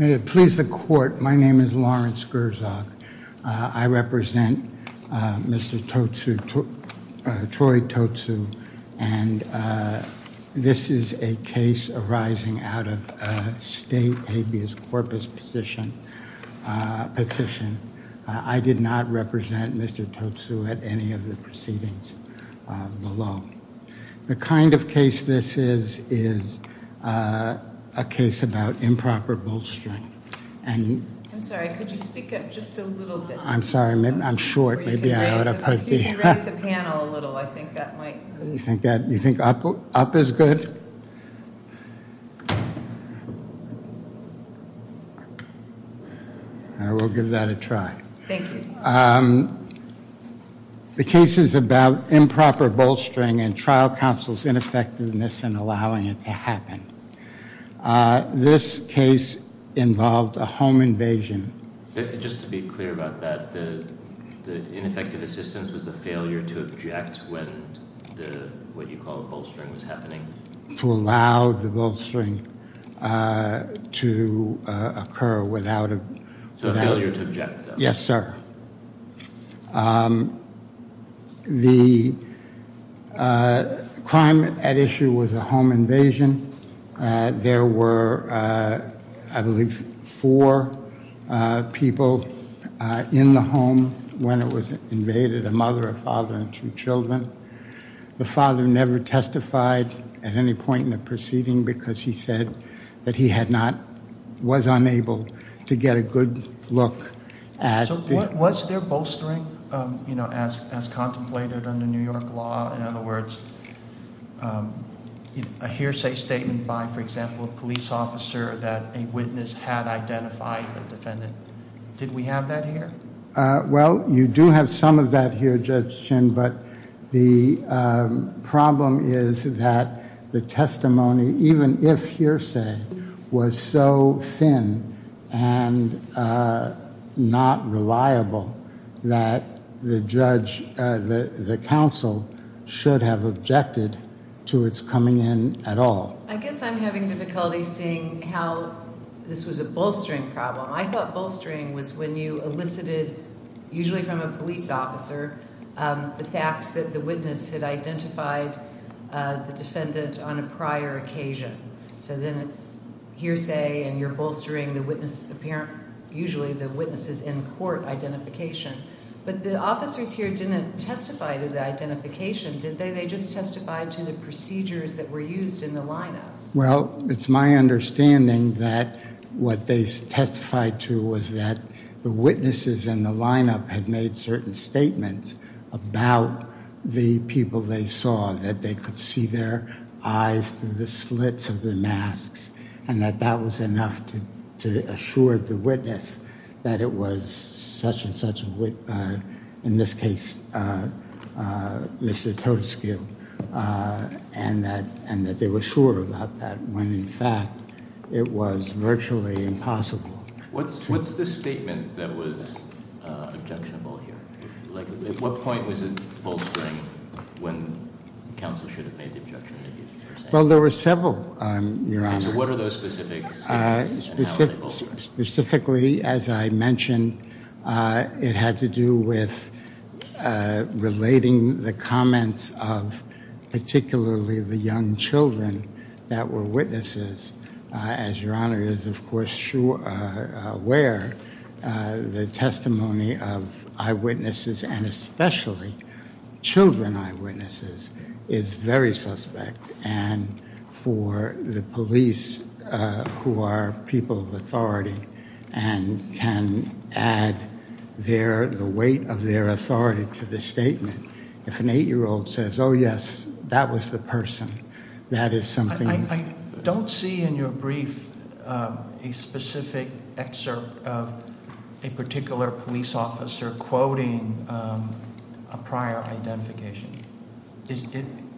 May it please the court, my name is Lawrence Gerzog, I represent Mr. Troy Totsu and this is a case arising out of a state habeas corpus position. I did not represent Mr. Totsu at any of the proceedings below. The kind of case this is, is a case about improper bolstering and trial counsel's ineffectiveness in allowing it to happen. This case involves a case involving a home invasion. Just to be clear about that, the ineffective assistance was the failure to object when the what you call bolstering was happening? To allow the bolstering to occur without a... So a failure to object? Yes sir. The crime at issue was a home invasion. There were, I believe, four people in the home when it was invaded, a mother, a father, and two children. The father never testified at any point in the proceeding because he said that he had not, was unable to get a good look at... So was there bolstering as contemplated under New York law? In other words, a hearsay statement by, for example, a police officer that a witness had identified a defendant. Did we have that here? Well, you do have some of that here, Judge Chin, but the problem is that the testimony, even if hearsay, was so thin and not reliable that the judge, the counsel, should have objected to its coming in at all. I guess I'm having difficulty seeing how this was a bolstering problem. I thought bolstering was when you elicited, usually from a police officer, the fact that the witness had identified the defendant on a prior occasion. So then it's hearsay and you're bolstering the witness, usually the witness's in court identification. But the officers here didn't testify to the identification, did they? They just testified to the procedures that were used in the lineup. Well, it's my understanding that what they testified to was that the witnesses in the lineup had made certain statements about the people they saw, that they could see their eyes through the slits of the masks, and that that was enough to assure the witness that it was such and such a witness, in this case, Mr. Toteskiel, and that they were sure about that when, in fact, it was virtually impossible. What's the statement that was objectionable here? At what point was it bolstering when counsel should have made the objection? Well, there were several, Your Honor. So what are those specific statements and how was it bolstering? Specifically, as I mentioned, it had to do with relating the comments of particularly the young children that were witnesses, as Your Honor is, of course, aware, the testimony of eyewitnesses, and especially children eyewitnesses, is very suspect. And for the police, who are people of authority and can add the weight of their authority to the statement, if an eight-year-old says, oh, yes, that was the person, that is something- I don't see in your brief a specific excerpt of a particular police officer quoting a prior identification.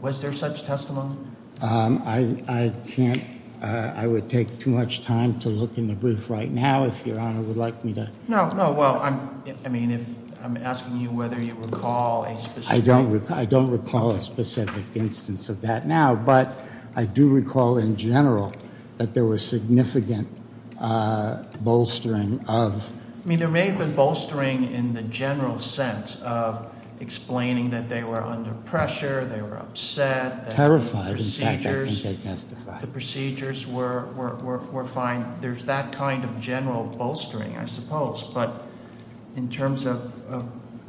Was there such testimony? I can't, I would take too much time to look in the brief right now, if Your Honor would like me to. No, no, well, I mean, I'm asking you whether you recall a specific- In general, that there was significant bolstering of- I mean, there may have been bolstering in the general sense of explaining that they were under pressure, they were upset- Terrified, in fact, I think they testified. The procedures were fine. There's that kind of general bolstering, I suppose. But in terms of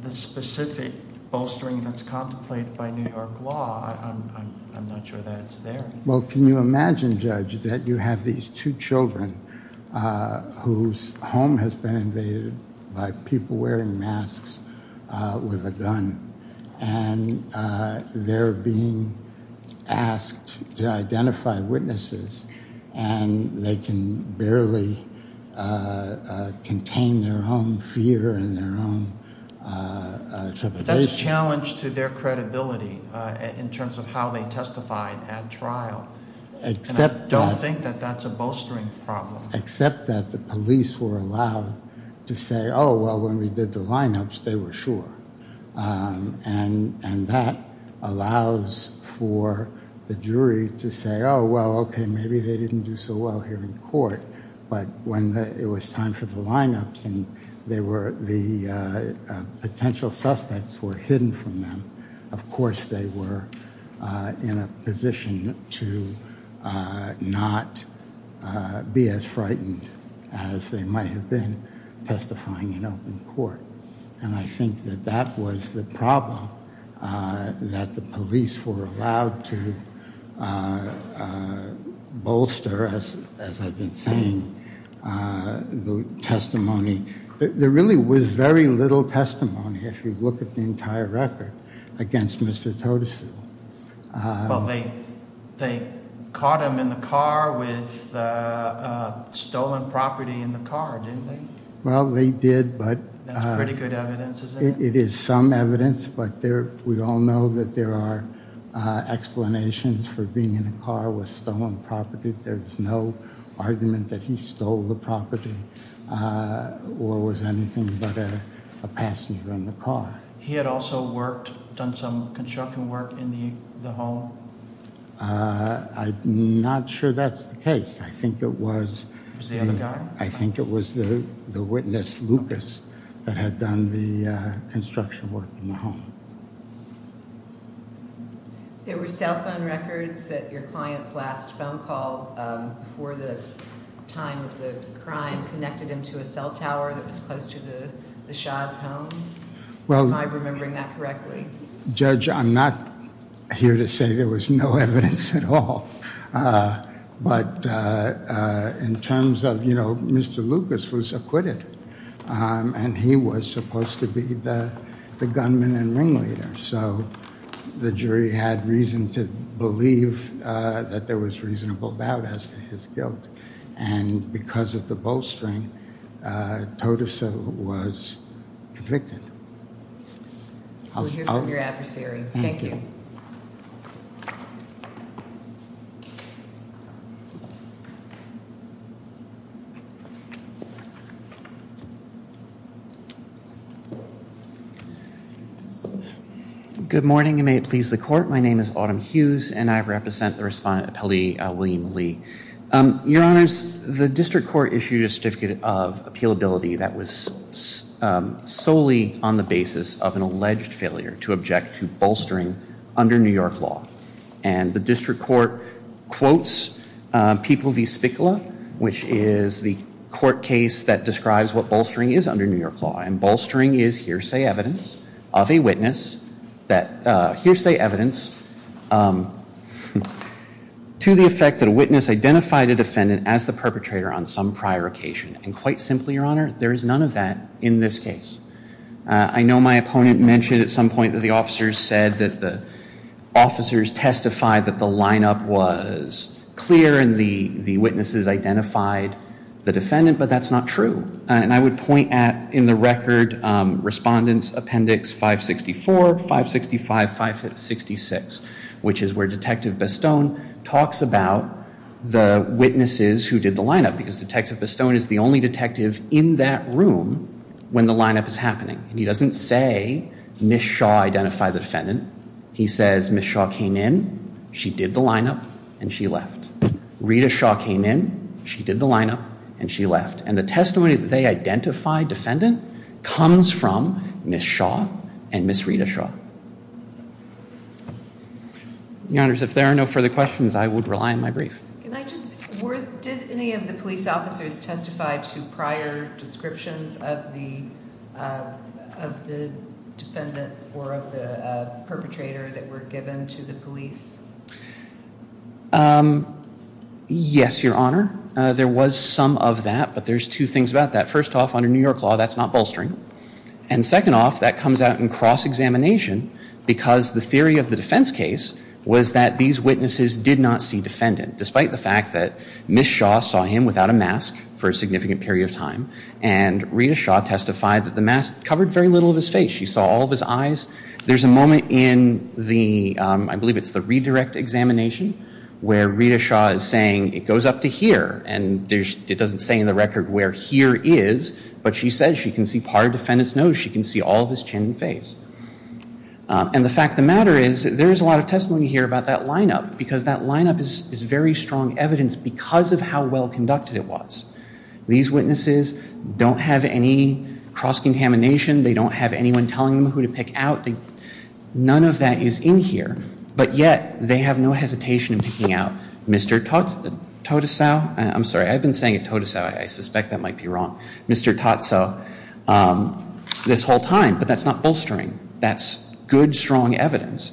the specific bolstering that's contemplated by New York law, I'm not sure that it's there. Well, can you imagine, Judge, that you have these two children whose home has been invaded by people wearing masks with a gun, and they're being asked to identify witnesses, and they can barely contain their own fear and their own trepidation. It's a challenge to their credibility in terms of how they testified at trial. And I don't think that that's a bolstering problem. Except that the police were allowed to say, oh, well, when we did the lineups, they were sure. And that allows for the jury to say, oh, well, okay, maybe they didn't do so well here in court. But when it was time for the lineups and the potential suspects were hidden from them, of course they were in a position to not be as frightened as they might have been testifying in open court. And I think that that was the problem, that the police were allowed to bolster, as I've been saying, the testimony. There really was very little testimony, if you look at the entire record, against Mr. Totesie. Well, they caught him in the car with stolen property in the car, didn't they? Well, they did, but- That's pretty good evidence, isn't it? It is some evidence, but we all know that there are explanations for being in a car with stolen property. There's no argument that he stole the property or was anything but a passenger in the car. He had also worked, done some construction work in the home? I'm not sure that's the case. I think it was- It was the other guy? I think it was the witness, Lucas, that had done the construction work in the home. There were cell phone records that your client's last phone call before the time of the crime connected him to a cell tower that was close to the Shah's home? Am I remembering that correctly? Judge, I'm not here to say there was no evidence at all. But in terms of, you know, Mr. Lucas was acquitted. And he was supposed to be the gunman and ringleader. So, the jury had reason to believe that there was reasonable doubt as to his guilt. And because of the bolstering, Totusa was convicted. We'll hear from your adversary. Thank you. Thank you. Good morning and may it please the court. My name is Autumn Hughes and I represent the Respondent Appellee, William Lee. Your Honors, the District Court issued a certificate of appealability that was solely on the basis of an alleged failure to object to bolstering under New York law. And the District Court quotes People v. Spicula, which is the court case that describes what bolstering is under New York law. And bolstering is hearsay evidence of a witness that hearsay evidence to the effect that a witness identified a defendant as the perpetrator on some prior occasion. And quite simply, Your Honor, there is none of that in this case. I know my opponent mentioned at some point that the officers said that the officers testified that the lineup was clear and the witnesses identified the defendant, but that's not true. And I would point at, in the record, Respondent's Appendix 564, 565, 566, which is where Detective Bestone talks about the witnesses who did the lineup. Because Detective Bestone is the only detective in that room when the lineup is happening. He doesn't say Ms. Shaw identified the defendant. He says Ms. Shaw came in, she did the lineup, and she left. Rita Shaw came in, she did the lineup, and she left. And the testimony that they identified defendant comes from Ms. Shaw and Ms. Rita Shaw. Your Honors, if there are no further questions, I would rely on my brief. Did any of the police officers testify to prior descriptions of the defendant or of the perpetrator that were given to the police? Yes, Your Honor. There was some of that, but there's two things about that. First off, under New York law, that's not bolstering. And second off, that comes out in cross-examination, because the theory of the defense case was that these witnesses did not see defendant, despite the fact that Ms. Shaw saw him without a mask for a significant period of time, and Rita Shaw testified that the mask covered very little of his face. She saw all of his eyes. There's a moment in the, I believe it's the redirect examination, where Rita Shaw is saying, it goes up to here, and it doesn't say in the record where here is, but she says she can see part of defendant's nose. She can see all of his chin and face. And the fact of the matter is, there is a lot of testimony here about that lineup, because that lineup is very strong evidence because of how well conducted it was. These witnesses don't have any cross-examination. They don't have anyone telling them who to pick out. None of that is in here. But yet, they have no hesitation in picking out Mr. Totesow. I'm sorry, I've been saying it, Totesow. I suspect that might be wrong. Mr. Totesow, this whole time. But that's not bolstering. That's good, strong evidence.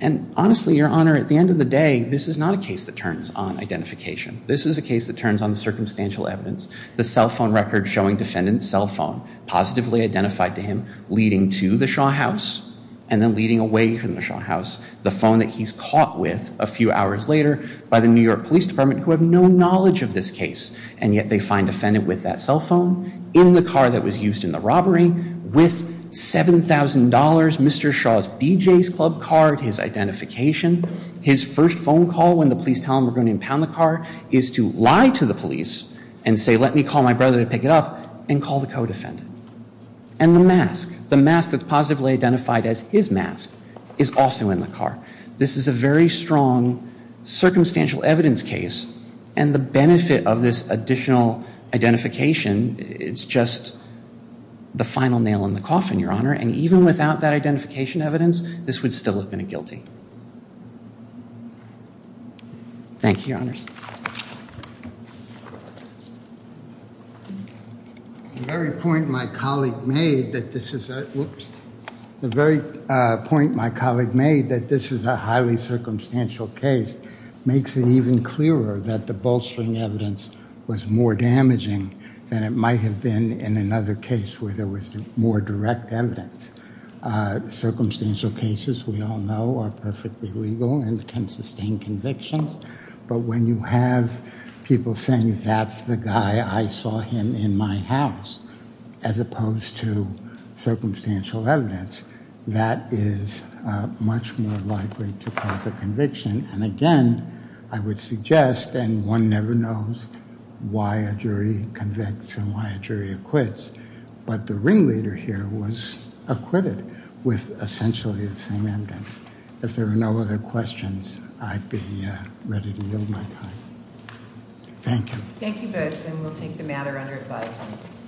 And honestly, Your Honor, at the end of the day, this is not a case that turns on identification. This is a case that turns on the circumstantial evidence. The cell phone record showing defendant's cell phone positively identified to him, leading to the Shaw house, and then leading away from the Shaw house, the phone that he's caught with a few hours later by the New York Police Department, who have no knowledge of this case. And yet, they find defendant with that cell phone in the car that was used in the robbery with $7,000, Mr. Shaw's BJ's club card, his identification. His first phone call when the police tell him we're going to impound the car is to lie to the police and say, let me call my brother to pick it up, and call the co-defendant. And the mask, the mask that's positively identified as his mask, is also in the car. This is a very strong circumstantial evidence case. And the benefit of this additional identification, it's just the final nail in the coffin, Your Honor. And even without that identification evidence, this would still have been a guilty. Thank you, Your Honors. The very point my colleague made that this is a highly circumstantial case makes it even clearer that the bolstering evidence was more damaging than it might have been in another case where there was more direct evidence. Circumstantial cases, we all know, are perfectly legal and can sustain convictions. But when you have people saying, that's the guy, I saw him in my house, as opposed to circumstantial evidence, that is much more likely to cause a conviction. And again, I would suggest, and one never knows why a jury convicts and why a jury acquits, but the ringleader here was acquitted with essentially the same evidence. If there are no other questions, I'd be ready to yield my time. Thank you. Thank you both, and we'll take the matter under advisement.